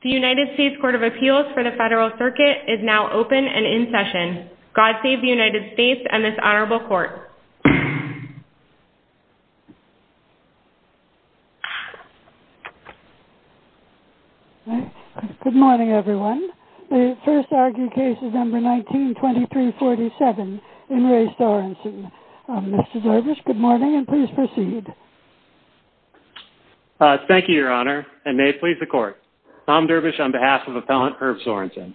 The United States Court of Appeals for the Federal Circuit is now open and in session. God save the United States and this Honorable Court. Good morning everyone. The first argued case is number 19-2347 in Re Sorensen. Mr. Dorbish, good morning and please proceed. Thank you, Your Honor, and may it please the Court. Tom Dorbish on behalf of Appellant Irv Sorensen.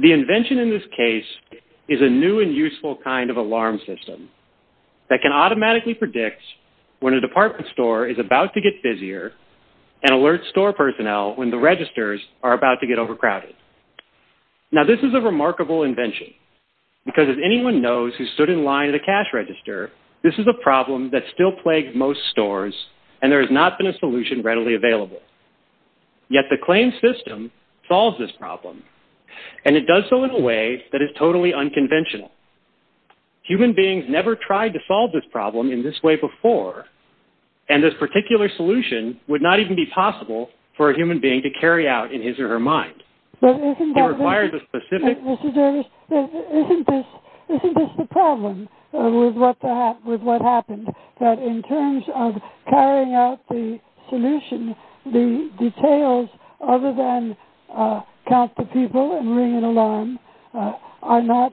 The invention in this case is a new and useful kind of alarm system that can automatically predict when a department store is about to get busier and alert store personnel when the registers are about to get overcrowded. Now this is a remarkable invention because if anyone knows who stood in line at a cash register, this is a problem that still plagues most stores and there has not been a solution readily available. Yet the claim system solves this problem and it does so in a way that is totally unconventional. Human beings never tried to solve this problem in this way before and this particular solution would not even be possible for a human being to carry out in his or her mind. But isn't that the... It requires a specific... Mr. Dorbish, isn't this the problem with what happened, that in terms of carrying out the solution, the details other than count the people and ring an alarm are not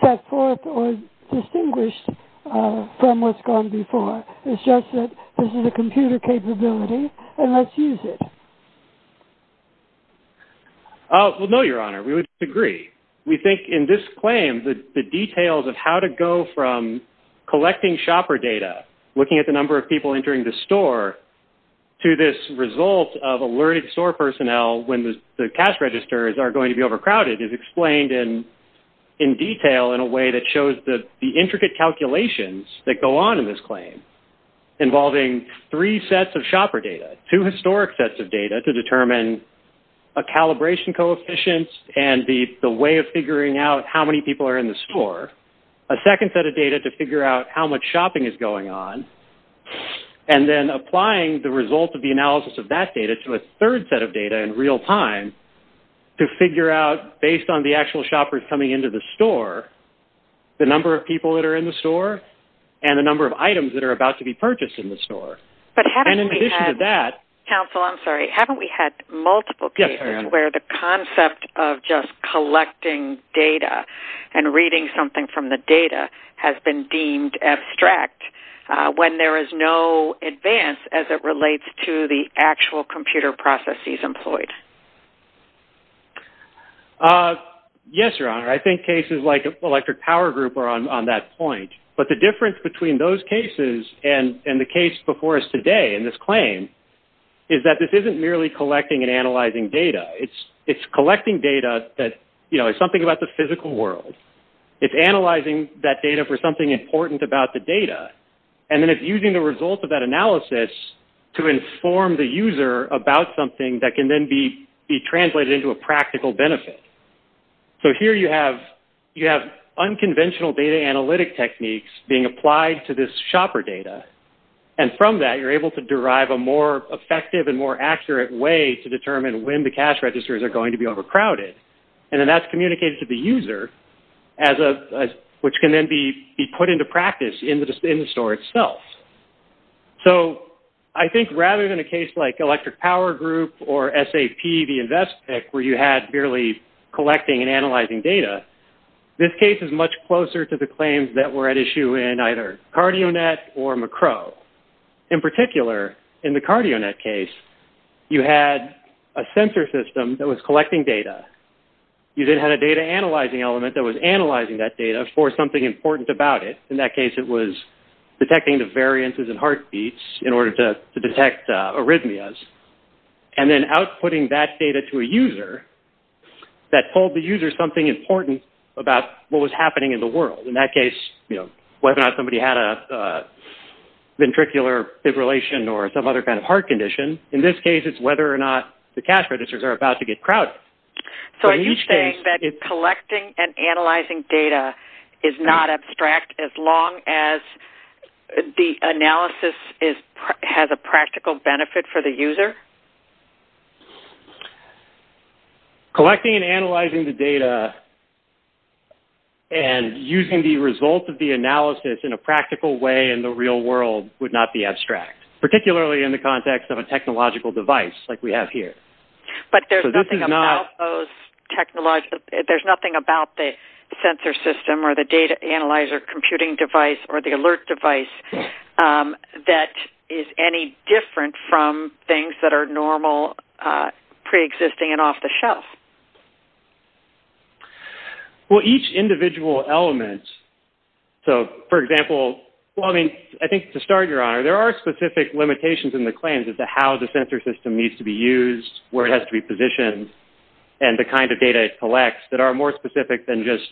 set forth or distinguished from what's gone before. It's just that this is a computer capability and let's use it. Well, no, Your Honor. We would disagree. We think in this claim that the details of how to go from collecting shopper data, looking at the number of people entering the store, to this result of alerted store personnel when the cash registers are going to be overcrowded is explained in detail in a way that shows the intricate calculations that go on in this claim involving three sets of shopper data, two historic sets of data to determine a calibration coefficient and the way of figuring out how many people are in the store, a second set of data to figure out how much shopping is going on, and then applying the result of the analysis of that data to a third set of data in real time to figure out, based on the actual shoppers coming into the store, the number of people that are in the store and the number of items that are about to be purchased in the store. But haven't we had... And in addition to that... Counsel, I'm sorry. Haven't we had multiple cases... Yes, Your Honor. ...where the concept of just collecting data and reading something from the data has been deemed abstract when there is no advance as it relates to the actual computer processes employed? Yes, Your Honor. I think cases like Electric Power Group are on that point. But the difference between those cases and the case before us today in this claim is that this isn't merely collecting and analyzing data. It's collecting data that, you know, it's something about the physical world. It's analyzing that data for something important about the data. And then it's using the result of that analysis to inform the user about something that can then be translated into a practical benefit. So here you have unconventional data analytic techniques being applied to this shopper data. And from that, you're able to derive a more effective and more accurate way to determine when the cash registers are going to be overcrowded. And then that's communicated to the user, which can then be put into practice in the store itself. So I think rather than a case like Electric Power Group or SAP, the invest pick, where you had merely collecting and analyzing data, this case is much closer to the claims that were at issue in either CardioNet or Macro. In particular, in the CardioNet case, you had a sensor system that was collecting data. You then had a data analyzing element that was analyzing that data for something important about it. In that case, it was detecting the variances in heartbeats in order to detect arrhythmias. And then outputting that data to a user that told the user something important about what was happening in the world. In that case, whether or not somebody had a ventricular fibrillation or some other kind of heart condition. In this case, it's whether or not the cash registers are about to get crowded. So are you saying that collecting and analyzing data is not abstract as long as the analysis has a practical benefit for the user? Collecting and analyzing the data and using the result of the analysis in a practical way in the real world would not be abstract, particularly in the context of a technological device like we have here. There's nothing about the sensor system or the data analyzer computing device or the sensor system that is any different from things that are normal, pre-existing, and off-the-shelf. Well, each individual element. So, for example, well, I mean, I think to start, Your Honor, there are specific limitations in the claims as to how the sensor system needs to be used, where it has to be positioned, and the kind of data it collects that are more specific than just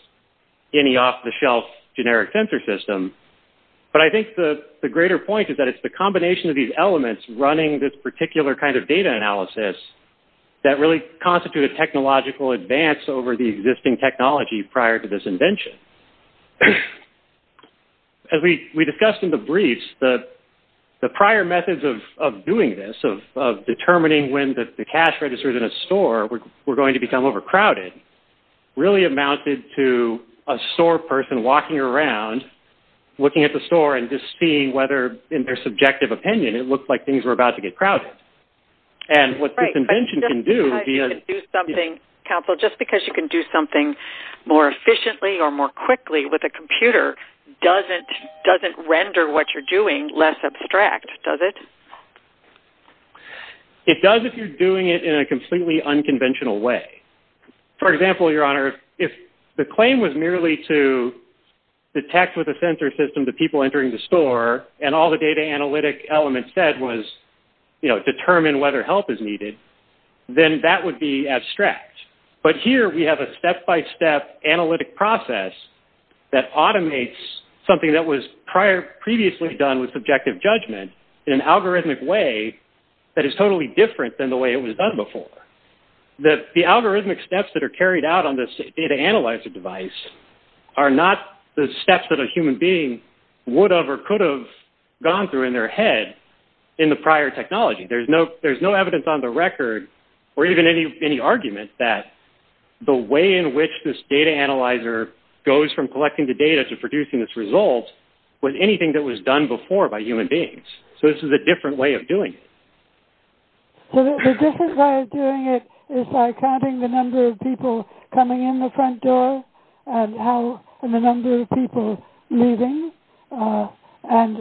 any off-the-shelf generic sensor system. But I think the greater point is that it's the combination of these elements running this particular kind of data analysis that really constitute a technological advance over the existing technology prior to this invention. As we discussed in the briefs, the prior methods of doing this, of determining when the cash registers in a store were going to become overcrowded, really amounted to a store person walking around looking at the store and just seeing whether, in their subjective opinion, it looked like things were about to get crowded. And what this invention can do... Right, but just because you can do something, Counsel, just because you can do something more efficiently or more quickly with a computer doesn't render what you're doing less abstract, does it? It does if you're doing it in a completely unconventional way. For example, Your Honor, if the claim was merely to detect with a sensor system the people entering the store, and all the data analytic elements said was, you know, determine whether help is needed, then that would be abstract. But here we have a step-by-step analytic process that automates something that was previously done with subjective judgment in an algorithmic way that is totally different than the way it was done before. The algorithmic steps that are carried out on this data analyzer device are not the steps that a human being would have or could have gone through in their head in the prior technology. There's no evidence on the record or even any argument that the way in which this data analyzer goes from collecting the data to producing this result was anything that was done before by human beings. So this is a different way of doing it. So the different way of doing it is by counting the number of people coming in the front door and the number of people leaving and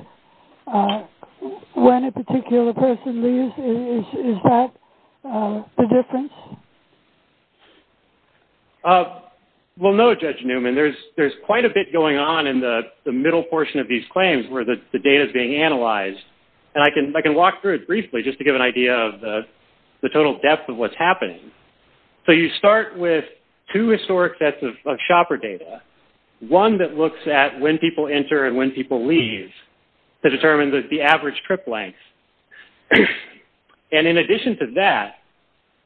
when a particular person leaves. Is that the difference? Well, no, Judge Newman. There's quite a bit going on in the middle portion of these claims where the data is being analyzed. And I can walk through it briefly just to give an idea of the total depth of what's happening. So you start with two historic sets of shopper data, one that looks at when people enter and when people leave to determine the average trip length. And in addition to that,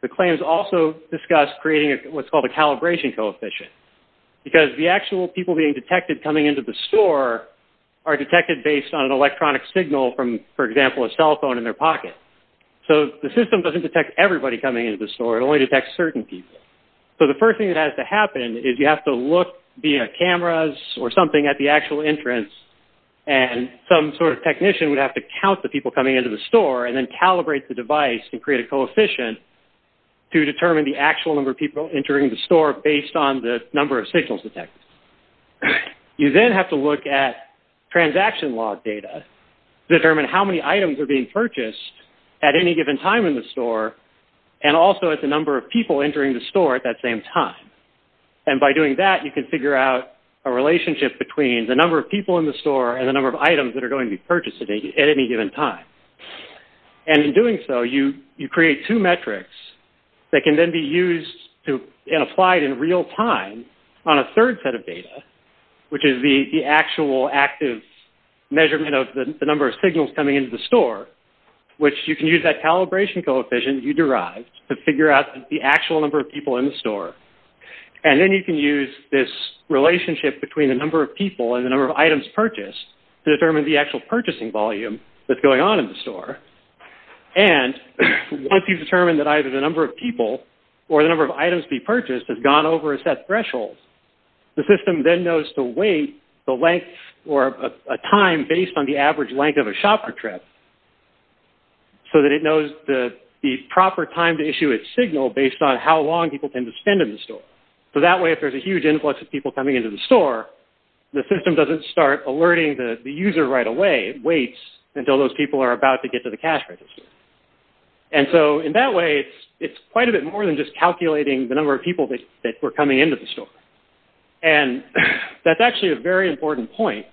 the claims also discuss creating what's called a calibration coefficient because the actual people being detected coming into the store are detected based on an electronic signal from, for example, a cell phone in their pocket. So the system doesn't detect everybody coming into the store. It only detects certain people. So the first thing that has to happen is you have to look via cameras or something at the actual entrance and some sort of technician would have to count the people coming into the store and then calibrate the device to create a coefficient to determine the actual number of people entering the store based on the number of signals detected. You then have to look at transaction log data to determine how many items are being purchased at any given time in the store and also at the number of people entering the store at that same time. And by doing that, you can figure out a relationship between the number of people in the store and the number of items that are going to be purchased at any given time. And in doing so, you create two metrics that can then be used and applied in real time on a third set of data, which is the actual active measurement of the number of signals coming into the store, which you can use that calibration coefficient you derived to figure out the actual number of people in the store. And then you can use this relationship between the number of people and the number of items purchased to determine the actual purchasing volume that's going on in the store. And once you've determined that either the number of people or the number of items to be purchased has gone over a set threshold, the system then knows to weight the length or a time based on the average length of a shopper trip so that it knows the proper time to issue its signal based on how long people tend to spend in the store. So that way, if there's a huge influx of people coming into the store, the system doesn't start alerting the user right away. It waits until those people are about to get to the cash register. And so in that way, it's quite a bit more than just calculating the number of people that were coming into the store. And that's actually a very important point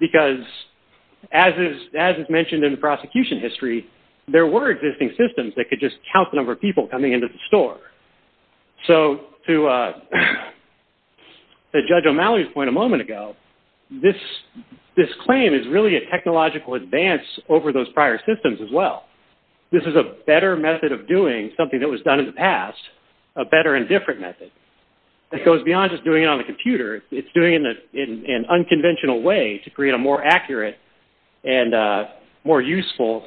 because as is mentioned in the prosecution history, there were existing systems that could just count the number of people coming into the store. So to Judge O'Malley's point a moment ago, this claim is really a technological advance over those prior systems as well. This is a better method of doing something that was done in the past, a better and different method. It goes beyond just doing it on the computer. It's doing it in an unconventional way to create a more accurate and more useful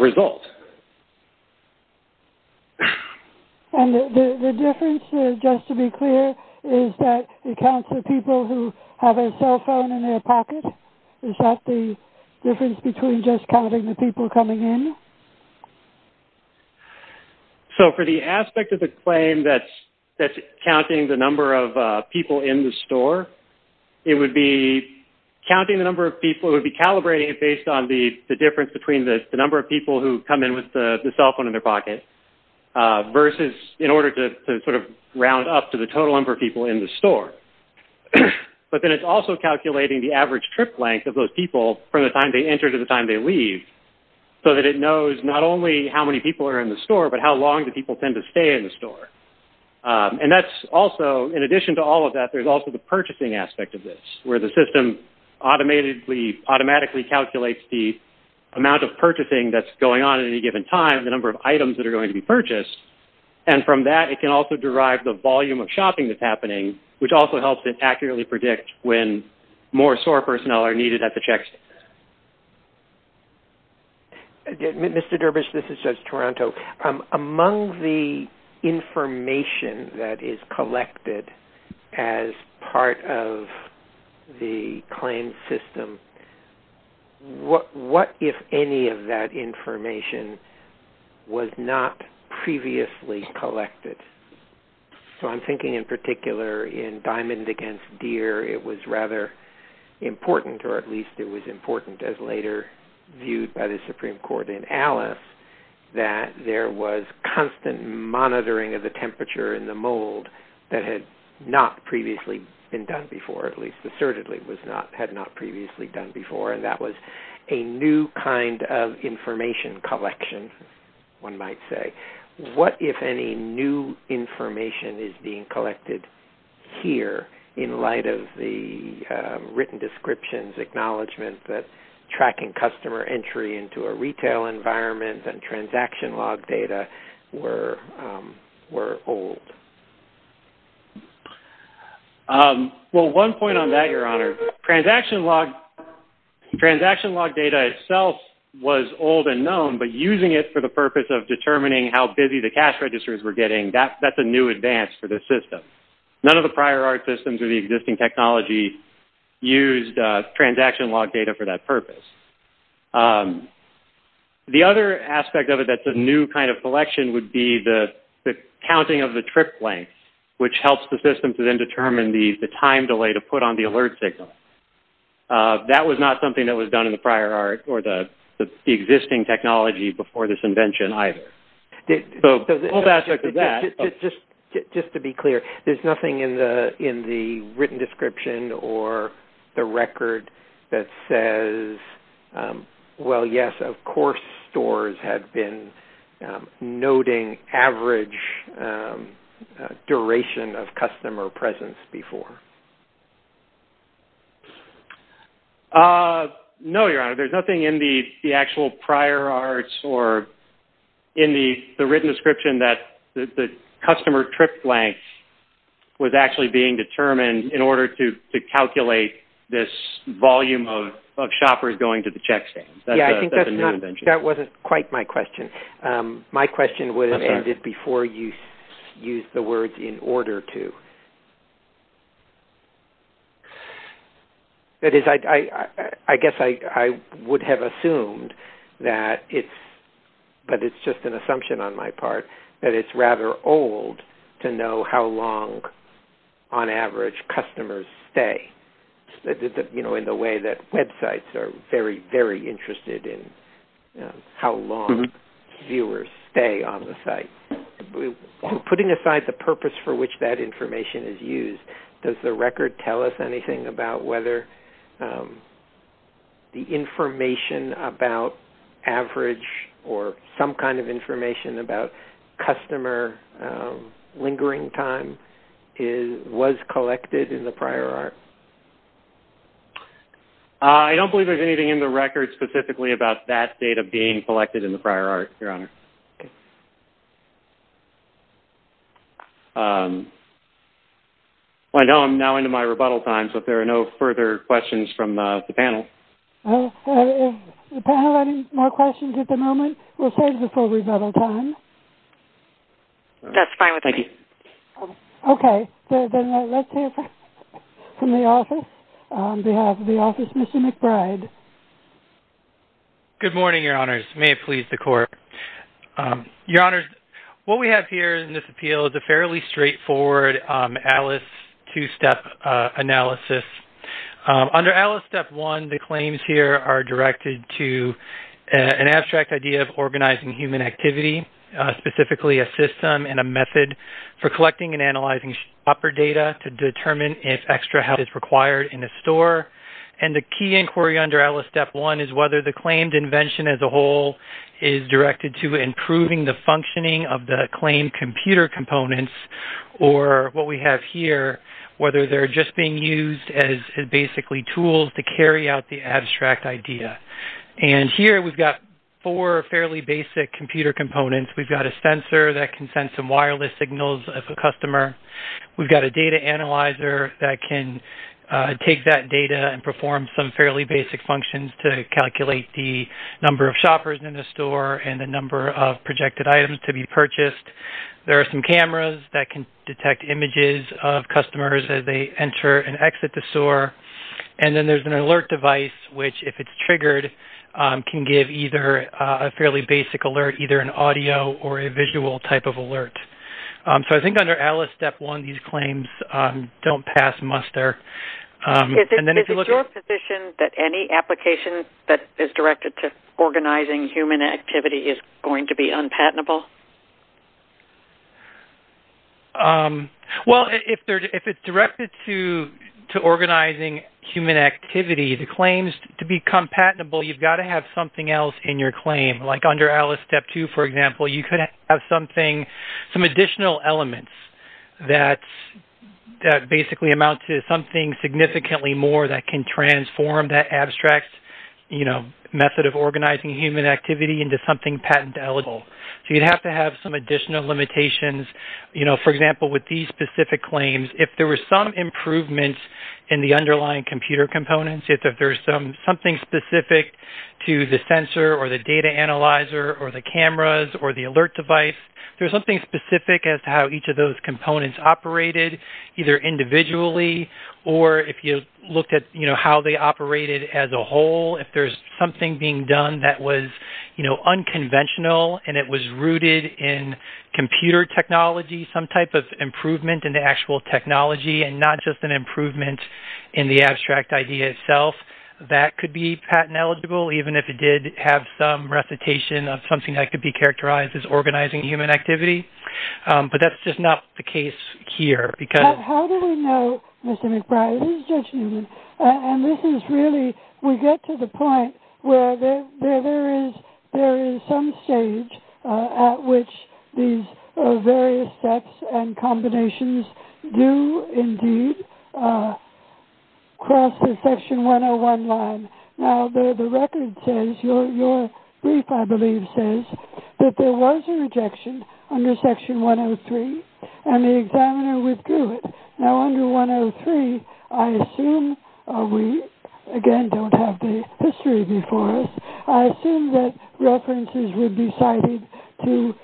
result. And the difference, just to be clear, is that it counts the people who have a cell phone in their pocket. Is that the difference between just counting the people coming in? So for the aspect of the claim that's counting the number of people in the store, it would be counting the number of people. It would be calibrating it based on the difference between the number of people who come in with the cell phone in their pocket versus in order to sort of round up to the total number of people in the store. But then it's also calculating the average trip length of those people from the time they enter to the time they leave so that it knows not only how many people are in the store but how long do people tend to stay in the store. And that's also, in addition to all of that, there's also the purchasing aspect of this where the system automatically calculates the amount of purchasing that's going on at any given time, the number of items that are going to be purchased. And from that, it can also derive the volume of shopping that's happening, which also helps it accurately predict when more store personnel are needed at the check. Mr. Derbyshire, this is Judge Toronto. Among the information that is collected as part of the claim system, what if any of that was previously collected? So I'm thinking in particular in Diamond Against Deer, it was rather important, or at least it was important as later viewed by the Supreme Court in Alice, that there was constant monitoring of the temperature in the mold that had not previously been done before, at least assertedly had not previously done before, and that was a new kind of information collection, one might say. What if any new information is being collected here in light of the written descriptions acknowledgement that tracking customer entry into a retail environment and transaction log data were old? Well, one point on that, Your Honor, transaction log data itself was old and known, but using it for the purpose of determining how busy the cash registers were getting, that's a new advance for this system. None of the prior art systems or the existing technology used transaction log data for that purpose. The other aspect of it that's a new kind of collection would be the counting of the trip length, which helps the system to then determine the time delay to put on the alert signal. That was not something that was done in the prior art or the existing technology before this invention either. Just to be clear, there's nothing in the written description or the record that says, well, yes, of course stores had been noting average duration of customer presence before. No, Your Honor. There's nothing in the actual prior arts or in the written description that the customer trip length was actually being determined in order to calculate this volume of shoppers going to the check stands. That's a new invention. Yes, I think that wasn't quite my question. My question would have ended before you used the words in order to. That is, I guess I would have assumed that it's just an assumption on my part that it's rather old to know how long on average customers stay in the way that websites are very, very interested in how long viewers stay on the site. Putting aside the purpose for which that information is used, does the record tell us anything about whether the information about average or some kind of information about customer lingering time was collected in the prior art? I don't believe there's anything in the record specifically about that data being collected in the prior art, Your Honor. Okay. Well, I know I'm now into my rebuttal time, but there are no further questions from the panel. Is the panel having more questions at the moment? We'll save this for rebuttal time. That's fine with me. Thank you. Okay. Then let's hear from the office. On behalf of the office, Mr. McBride. Good morning, Your Honors. May it please the Court. Your Honors, what we have here in this appeal is a fairly straightforward ALICE two-step analysis. Under ALICE Step 1, the claims here are directed to an abstract idea of organizing human activity, specifically a system and a method for collecting and analyzing shopper data to determine if extra help is required in a store. And the key inquiry under ALICE Step 1 is whether the claimed invention as a whole is directed to improving the functioning of the claimed computer components or what we have here, whether they're just being used as basically tools to carry out the abstract idea. And here we've got four fairly basic computer components. We've got a sensor that can send some wireless signals of a customer. We've got a data analyzer that can take that data and perform some fairly basic functions to calculate the number of shoppers in the store and the number of projected items to be purchased. There are some cameras that can detect images of customers as they enter and exit the store. And then there's an alert device which, if it's triggered, can give either a fairly basic alert, so I think under ALICE Step 1, these claims don't pass muster. Is it your position that any application that is directed to organizing human activity is going to be unpatentable? Well, if it's directed to organizing human activity, the claims, to become patentable, you've got to have something else in your claim. Like under ALICE Step 2, for example, you could have some additional elements that basically amount to something significantly more that can transform that abstract method of organizing human activity into something patentable. So you'd have to have some additional limitations. For example, with these specific claims, if there were some improvements in the underlying computer components, if there's something specific to the sensor or the data analyzer or the cameras or the alert device, there's something specific as to how each of those components operated either individually or if you looked at how they operated as a whole, if there's something being done that was unconventional and it was rooted in computer technology, some type of improvement in the actual technology and not just an improvement in the abstract idea itself, that could be patent eligible, even if it did have some recitation of something that could be characterized as organizing human activity. But that's just not the case here. How do we know, Mr. McBride? And this is really, we get to the point where there is some stage at which these various steps and combinations do indeed cross the Section 101 line. Now the record says, your brief I believe says, that there was a rejection under Section 103 and the examiner withdrew it. Now under 103, I assume, we again don't have the history before us, I assume that references would be cited to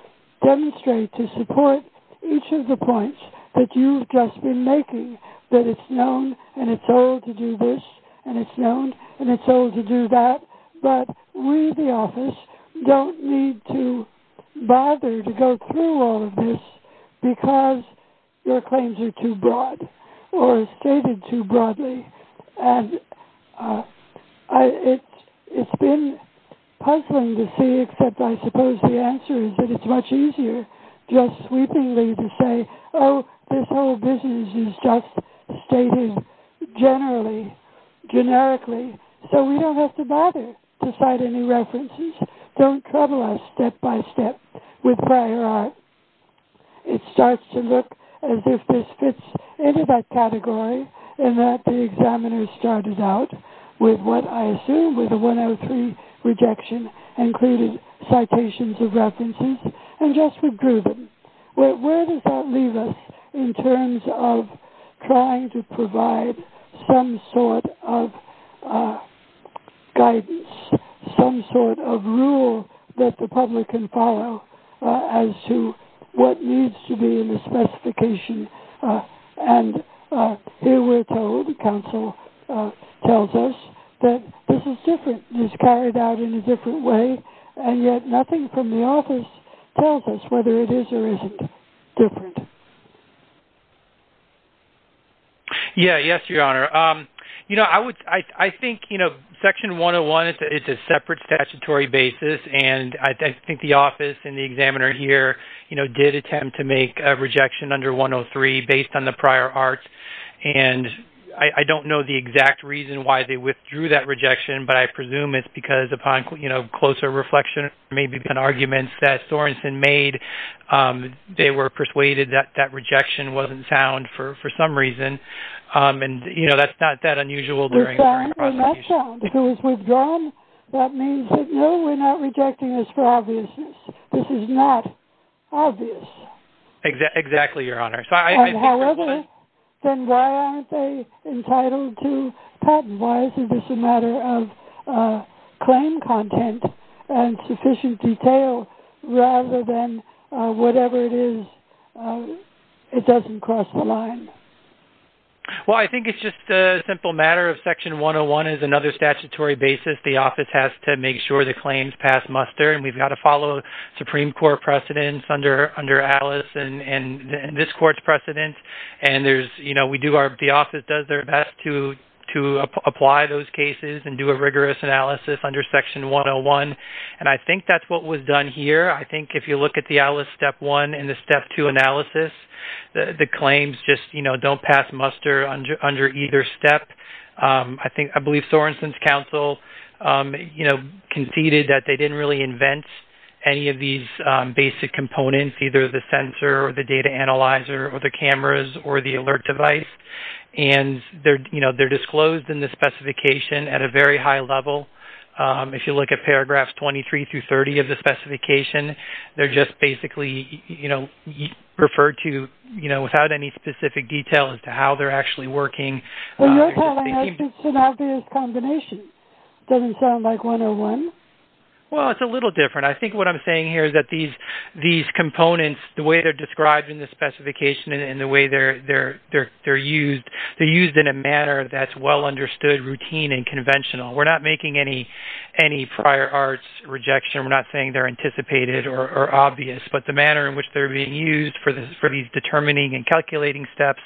demonstrate, to support each of the points that you've just been making, that it's known and it's told to do this and it's known and it's told to do that, but we, the office, don't need to bother to go through all of this because your claims are too broad or stated too broadly and it's been puzzling to see except I suppose the answer is that it's much easier just sweepingly to say, oh, this whole business is just stated generally, generically, so we don't have to bother to cite any references. Don't trouble us step by step with prior art. It starts to look as if this fits into that category and that the examiner started out with what I assume was a 103 rejection and created citations of references and just withdrew them. Where does that leave us in terms of trying to provide some sort of guidance, some sort of rule that the public can follow as to what needs to be in the specification and here we're told, the council tells us, that this is different, it's carried out in a different way and yet nothing from the office tells us whether it is or isn't different. Yeah, yes, your honor. You know, I think, you know, section 101, it's a separate statutory basis and I think the office and the examiner here, you know, did attempt to make a rejection under 103 based on the prior art and I don't know the exact reason why they withdrew that rejection, but I presume it's because upon, you know, closer reflection, maybe an argument that Sorenson made, they were persuaded that that rejection wasn't sound for some reason and, you know, that's not that unusual. If it was withdrawn, that means that no, we're not rejecting this for obviousness. This is not obvious. Exactly, your honor. However, then why aren't they entitled to patent? Why is this a matter of claim content and sufficient detail rather than whatever it is, it doesn't cross the line? Well, I think it's just a simple matter of section 101 is another statutory basis. The office has to make sure the claims pass muster and we've got to follow Supreme Court precedents under Alice and this court's precedents and, you know, the office does their best to apply those cases and do a rigorous analysis under section 101, and I think that's what was done here. I think if you look at the Alice step one and the step two analysis, the claims just, you know, don't pass muster under either step. I believe Sorensen's counsel, you know, conceded that they didn't really invent any of these basic components, either the sensor or the data analyzer or the cameras or the alert device, and they're disclosed in the specification at a very high level. If you look at paragraphs 23 through 30 of the specification, they're just basically, you know, referred to, you know, without any specific detail as to how they're actually working. Well, you're telling us it's an obvious combination. It doesn't sound like 101. Well, it's a little different. I think what I'm saying here is that these components, the way they're described in the specification and the way they're used, they're used in a manner that's well understood, routine, and conventional. We're not making any prior arts rejection. We're not saying they're anticipated or obvious, but the manner in which they're being used for these determining and calculating steps,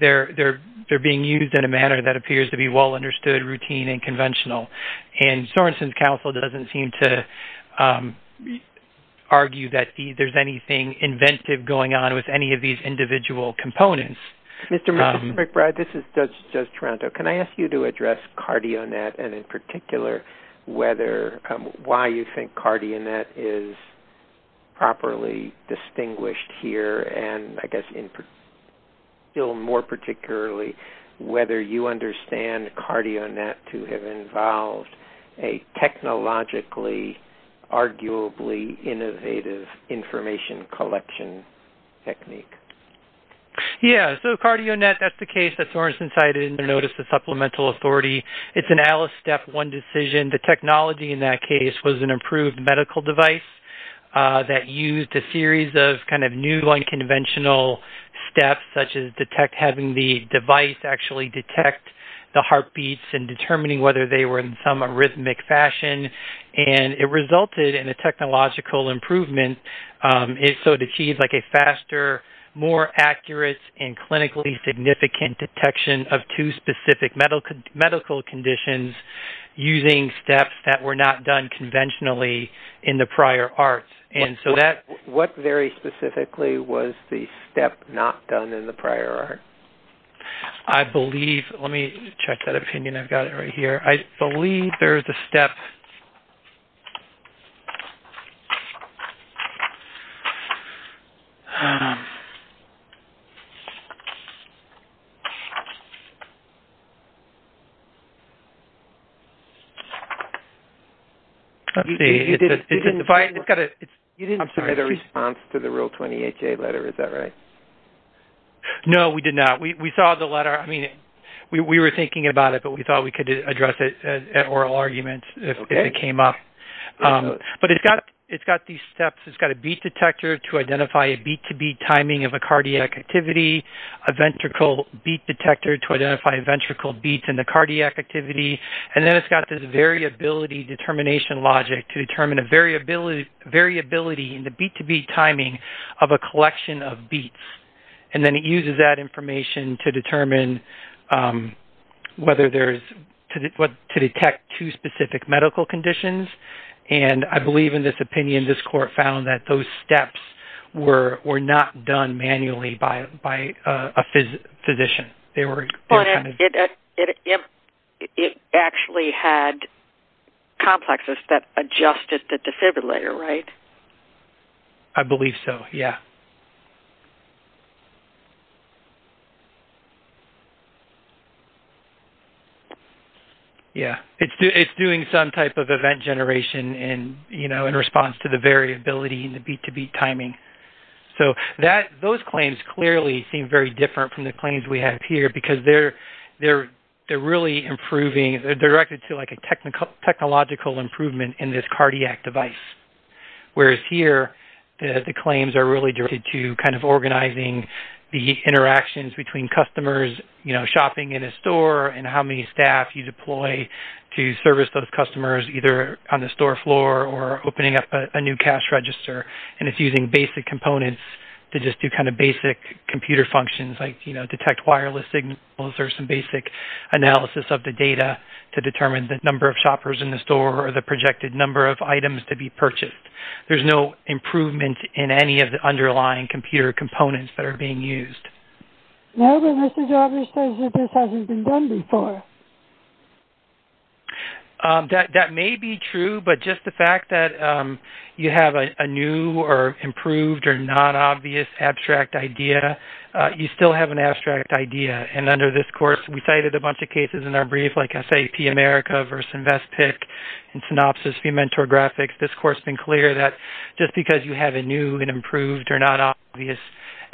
they're being used in a manner that appears to be well understood, routine, and conventional. And Sorenson's Council doesn't seem to argue that there's anything inventive going on with any of these individual components. Mr. McBride, this is Judge Toronto. Can I ask you to address CardioNet and, in particular, why you think CardioNet is properly distinguished here and, I guess, still more particularly, whether you understand CardioNet to have involved a technologically, arguably innovative information collection technique? Yeah. So CardioNet, that's the case that Sorenson cited in the notice of supplemental authority. It's an Alice Step 1 decision. The technology in that case was an improved medical device that used a series of kind of new unconventional steps, such as having the device actually detect the heartbeats and determining whether they were in some arrhythmic fashion. And it resulted in a technological improvement. So it achieved, like, a faster, more accurate, and clinically significant detection of two specific medical conditions using steps that were not done conventionally in the prior arts. What very specifically was the step not done in the prior art? I believe-let me check that opinion. I've got it right here. I believe there's a step- Let's see. It's got a- You didn't submit a response to the Rule 28A letter. Is that right? No, we did not. We saw the letter. I mean, we were thinking about it, but we thought we could address it at oral argument if it came up. But it's got these steps. It's got a beat detector to identify a beat-to-beat timing of a cardiac activity, a ventricle beat detector to identify ventricle beats in the cardiac activity, and then it's got this variability determination logic to determine a variability in the beat-to-beat timing of a collection of beats. And then it uses that information to determine whether there's-to detect two specific medical conditions. And I believe, in this opinion, this court found that those steps were not done manually by a physician. But it actually had complexes that adjusted the defibrillator, right? I believe so, yeah. Yeah. It's doing some type of event generation in response to the variability in the beat-to-beat timing. So those claims clearly seem very different from the claims we have here because they're really improving. They're directed to, like, a technological improvement in this cardiac device, whereas here the claims are really directed to kind of organizing the interactions between customers, you know, shopping in a store and how many staff you deploy to service those customers, either on the store floor or opening up a new cash register. And it's using basic components to just do kind of basic computer functions like, you know, detect wireless signals or some basic analysis of the data to determine the number of shoppers in the store or the projected number of items to be purchased. There's no improvement in any of the underlying computer components that are being used. No, but Mr. Jarvis says that this hasn't been done before. That may be true, but just the fact that you have a new or improved or non-obvious abstract idea, you still have an abstract idea. And under this course, we cited a bunch of cases in our brief, like SAP America versus Investpick and Synopsys, Fementor Graphics. This course has been clear that just because you have a new and improved or non-obvious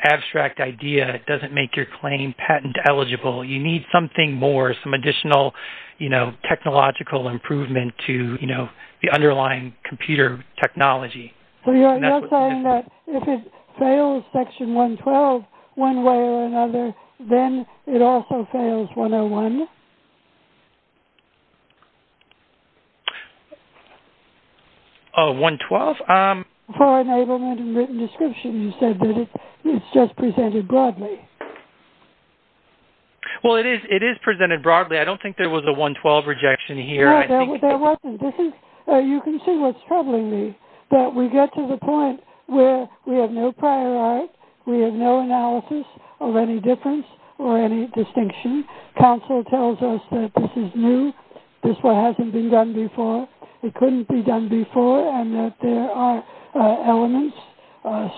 abstract idea, it doesn't make your claim patent-eligible. You need something more, some additional information. Some additional, you know, technological improvement to, you know, the underlying computer technology. So you're saying that if it fails Section 112 one way or another, then it also fails 101? Oh, 112? For enablement and written description, you said that it's just presented broadly. Well, it is presented broadly. I don't think there was a 112 rejection here. No, there wasn't. You can see what's troubling me, that we get to the point where we have no prior art, we have no analysis of any difference or any distinction. Counsel tells us that this is new, this one hasn't been done before, it couldn't be done before, and that there are elements,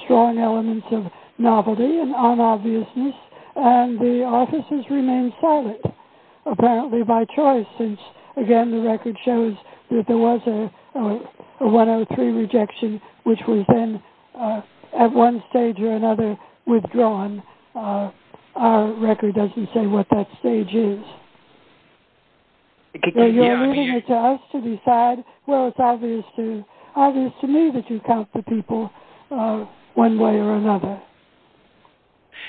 strong elements of novelty and unobviousness, and the offices remain silent, apparently by choice, since, again, the record shows that there was a 103 rejection, which was then at one stage or another withdrawn. Our record doesn't say what that stage is. You're leaving it to us to decide. Well, it's obvious to me that you count the people one way or another.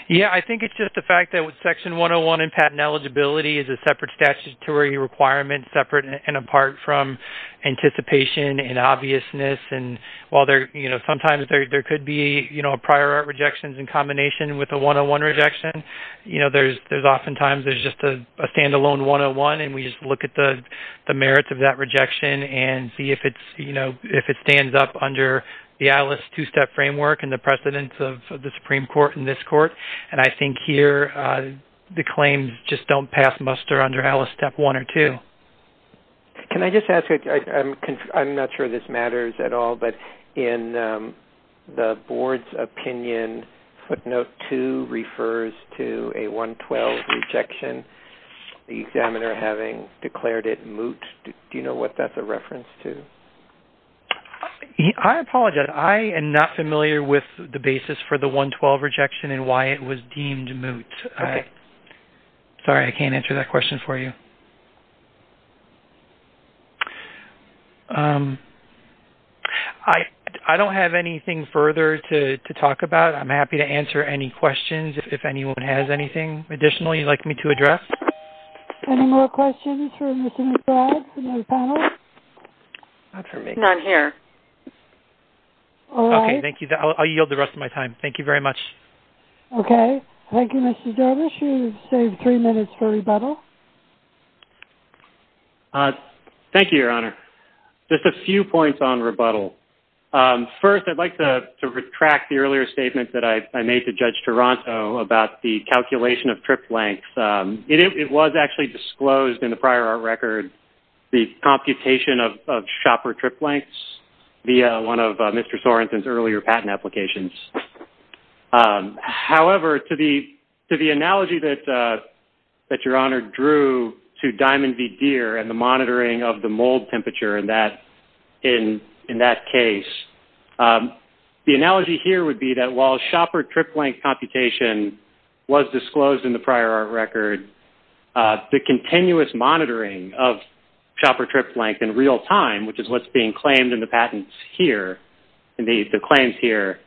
Yeah, I think it's just the fact that with Section 101 and patent eligibility is a separate statutory requirement, separate and apart from anticipation and obviousness, and while there, you know, sometimes there could be, you know, a prior art rejection in combination with a 101 rejection, you know, there's oftentimes there's just a standalone 101, and we just look at the merits of that rejection and see if it's, you know, if it stands up under the ALIS two-step framework and the precedence of the Supreme Court in this court, and I think here the claims just don't pass muster under ALIS Step 1 or 2. Can I just ask, I'm not sure this matters at all, but in the board's opinion, footnote 2 refers to a 112 rejection, the examiner having declared it moot. Do you know what that's a reference to? I apologize. I am not familiar with the basis for the 112 rejection and why it was deemed moot. Okay. Sorry, I can't answer that question for you. I don't have anything further to talk about. I'm happy to answer any questions if anyone has anything additionally you'd like me to address. Any more questions for Mr. McBride, another panel? Not for me. None here. All right. Okay, thank you. I'll yield the rest of my time. Thank you very much. Okay. Thank you, Mr. Dervish. You've saved three minutes for rebuttal. Thank you, Your Honor. Just a few points on rebuttal. First, I'd like to retract the earlier statement that I made to Judge Toronto about the calculation of trip lengths. It was actually disclosed in the prior record, the computation of shopper trip lengths via one of Mr. Sorenson's earlier patent applications. However, to the analogy that Your Honor drew to Diamond v. Deere and the monitoring of the mold temperature in that case, the analogy here would be that while shopper trip length computation was disclosed in the prior record, the continuous monitoring of shopper trip length in real time, which is what's being claimed in the patents here, in the claims here,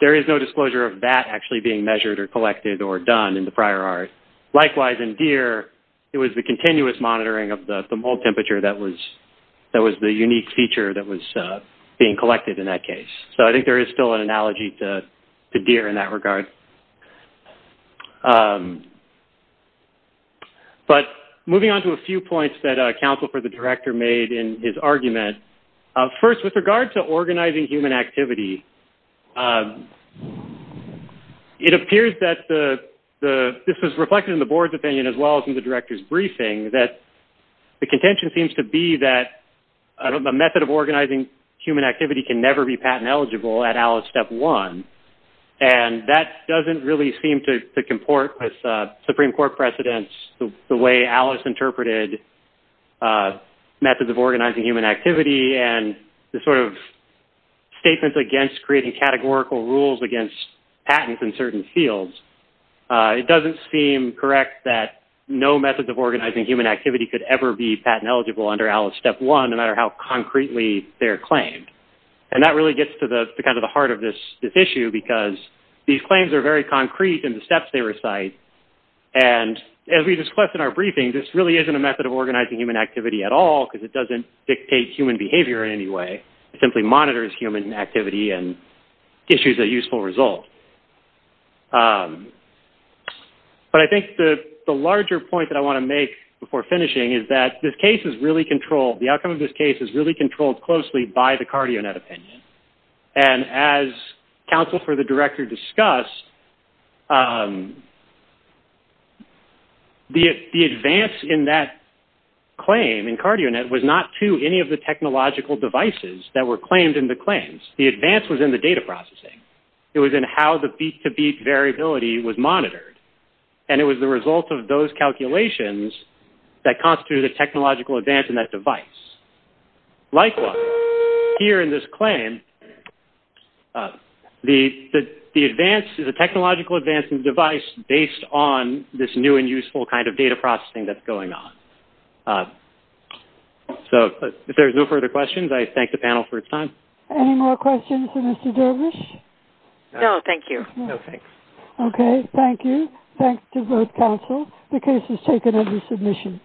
there is no disclosure of that actually being measured or collected or done in the prior art. Likewise, in Deere, it was the continuous monitoring of the mold temperature that was the unique feature that was being collected in that case. So I think there is still an analogy to Deere in that regard. But moving on to a few points that Counsel for the Director made in his argument. First, with regard to organizing human activity, it appears that this is reflected in the Board's opinion as well as in the Director's briefing that the contention seems to be that a method of organizing human activity can never be patent eligible at ALICE Step 1. And that doesn't really seem to comport with Supreme Court precedents, the way ALICE interpreted methods of organizing human activity and the sort of statements against creating categorical rules against patents in certain fields. It doesn't seem correct that no method of organizing human activity could ever be patent eligible under ALICE Step 1, no matter how concretely they're claimed. And that really gets to the heart of this issue because these claims are very concrete in the steps they recite. And as we discussed in our briefing, this really isn't a method of organizing human activity at all because it doesn't dictate human behavior in any way. It simply monitors human activity and issues a useful result. But I think the larger point that I want to make before finishing is that the outcome of this case is really controlled closely by the CardioNet opinion. And as counsel for the Director discussed, the advance in that claim in CardioNet was not to any of the technological devices that were claimed in the claims. The advance was in the data processing. It was in how the beat-to-beat variability was monitored. And it was the result of those calculations that constitute a technological advance in that device. Likewise, here in this claim, the advance is a technological advance in the device based on this new and useful kind of data processing that's going on. So if there's no further questions, I thank the panel for its time. Any more questions for Mr. Dervish? No, thank you. No, thanks. Okay, thank you. Thanks to both counsel. The case has taken every submission.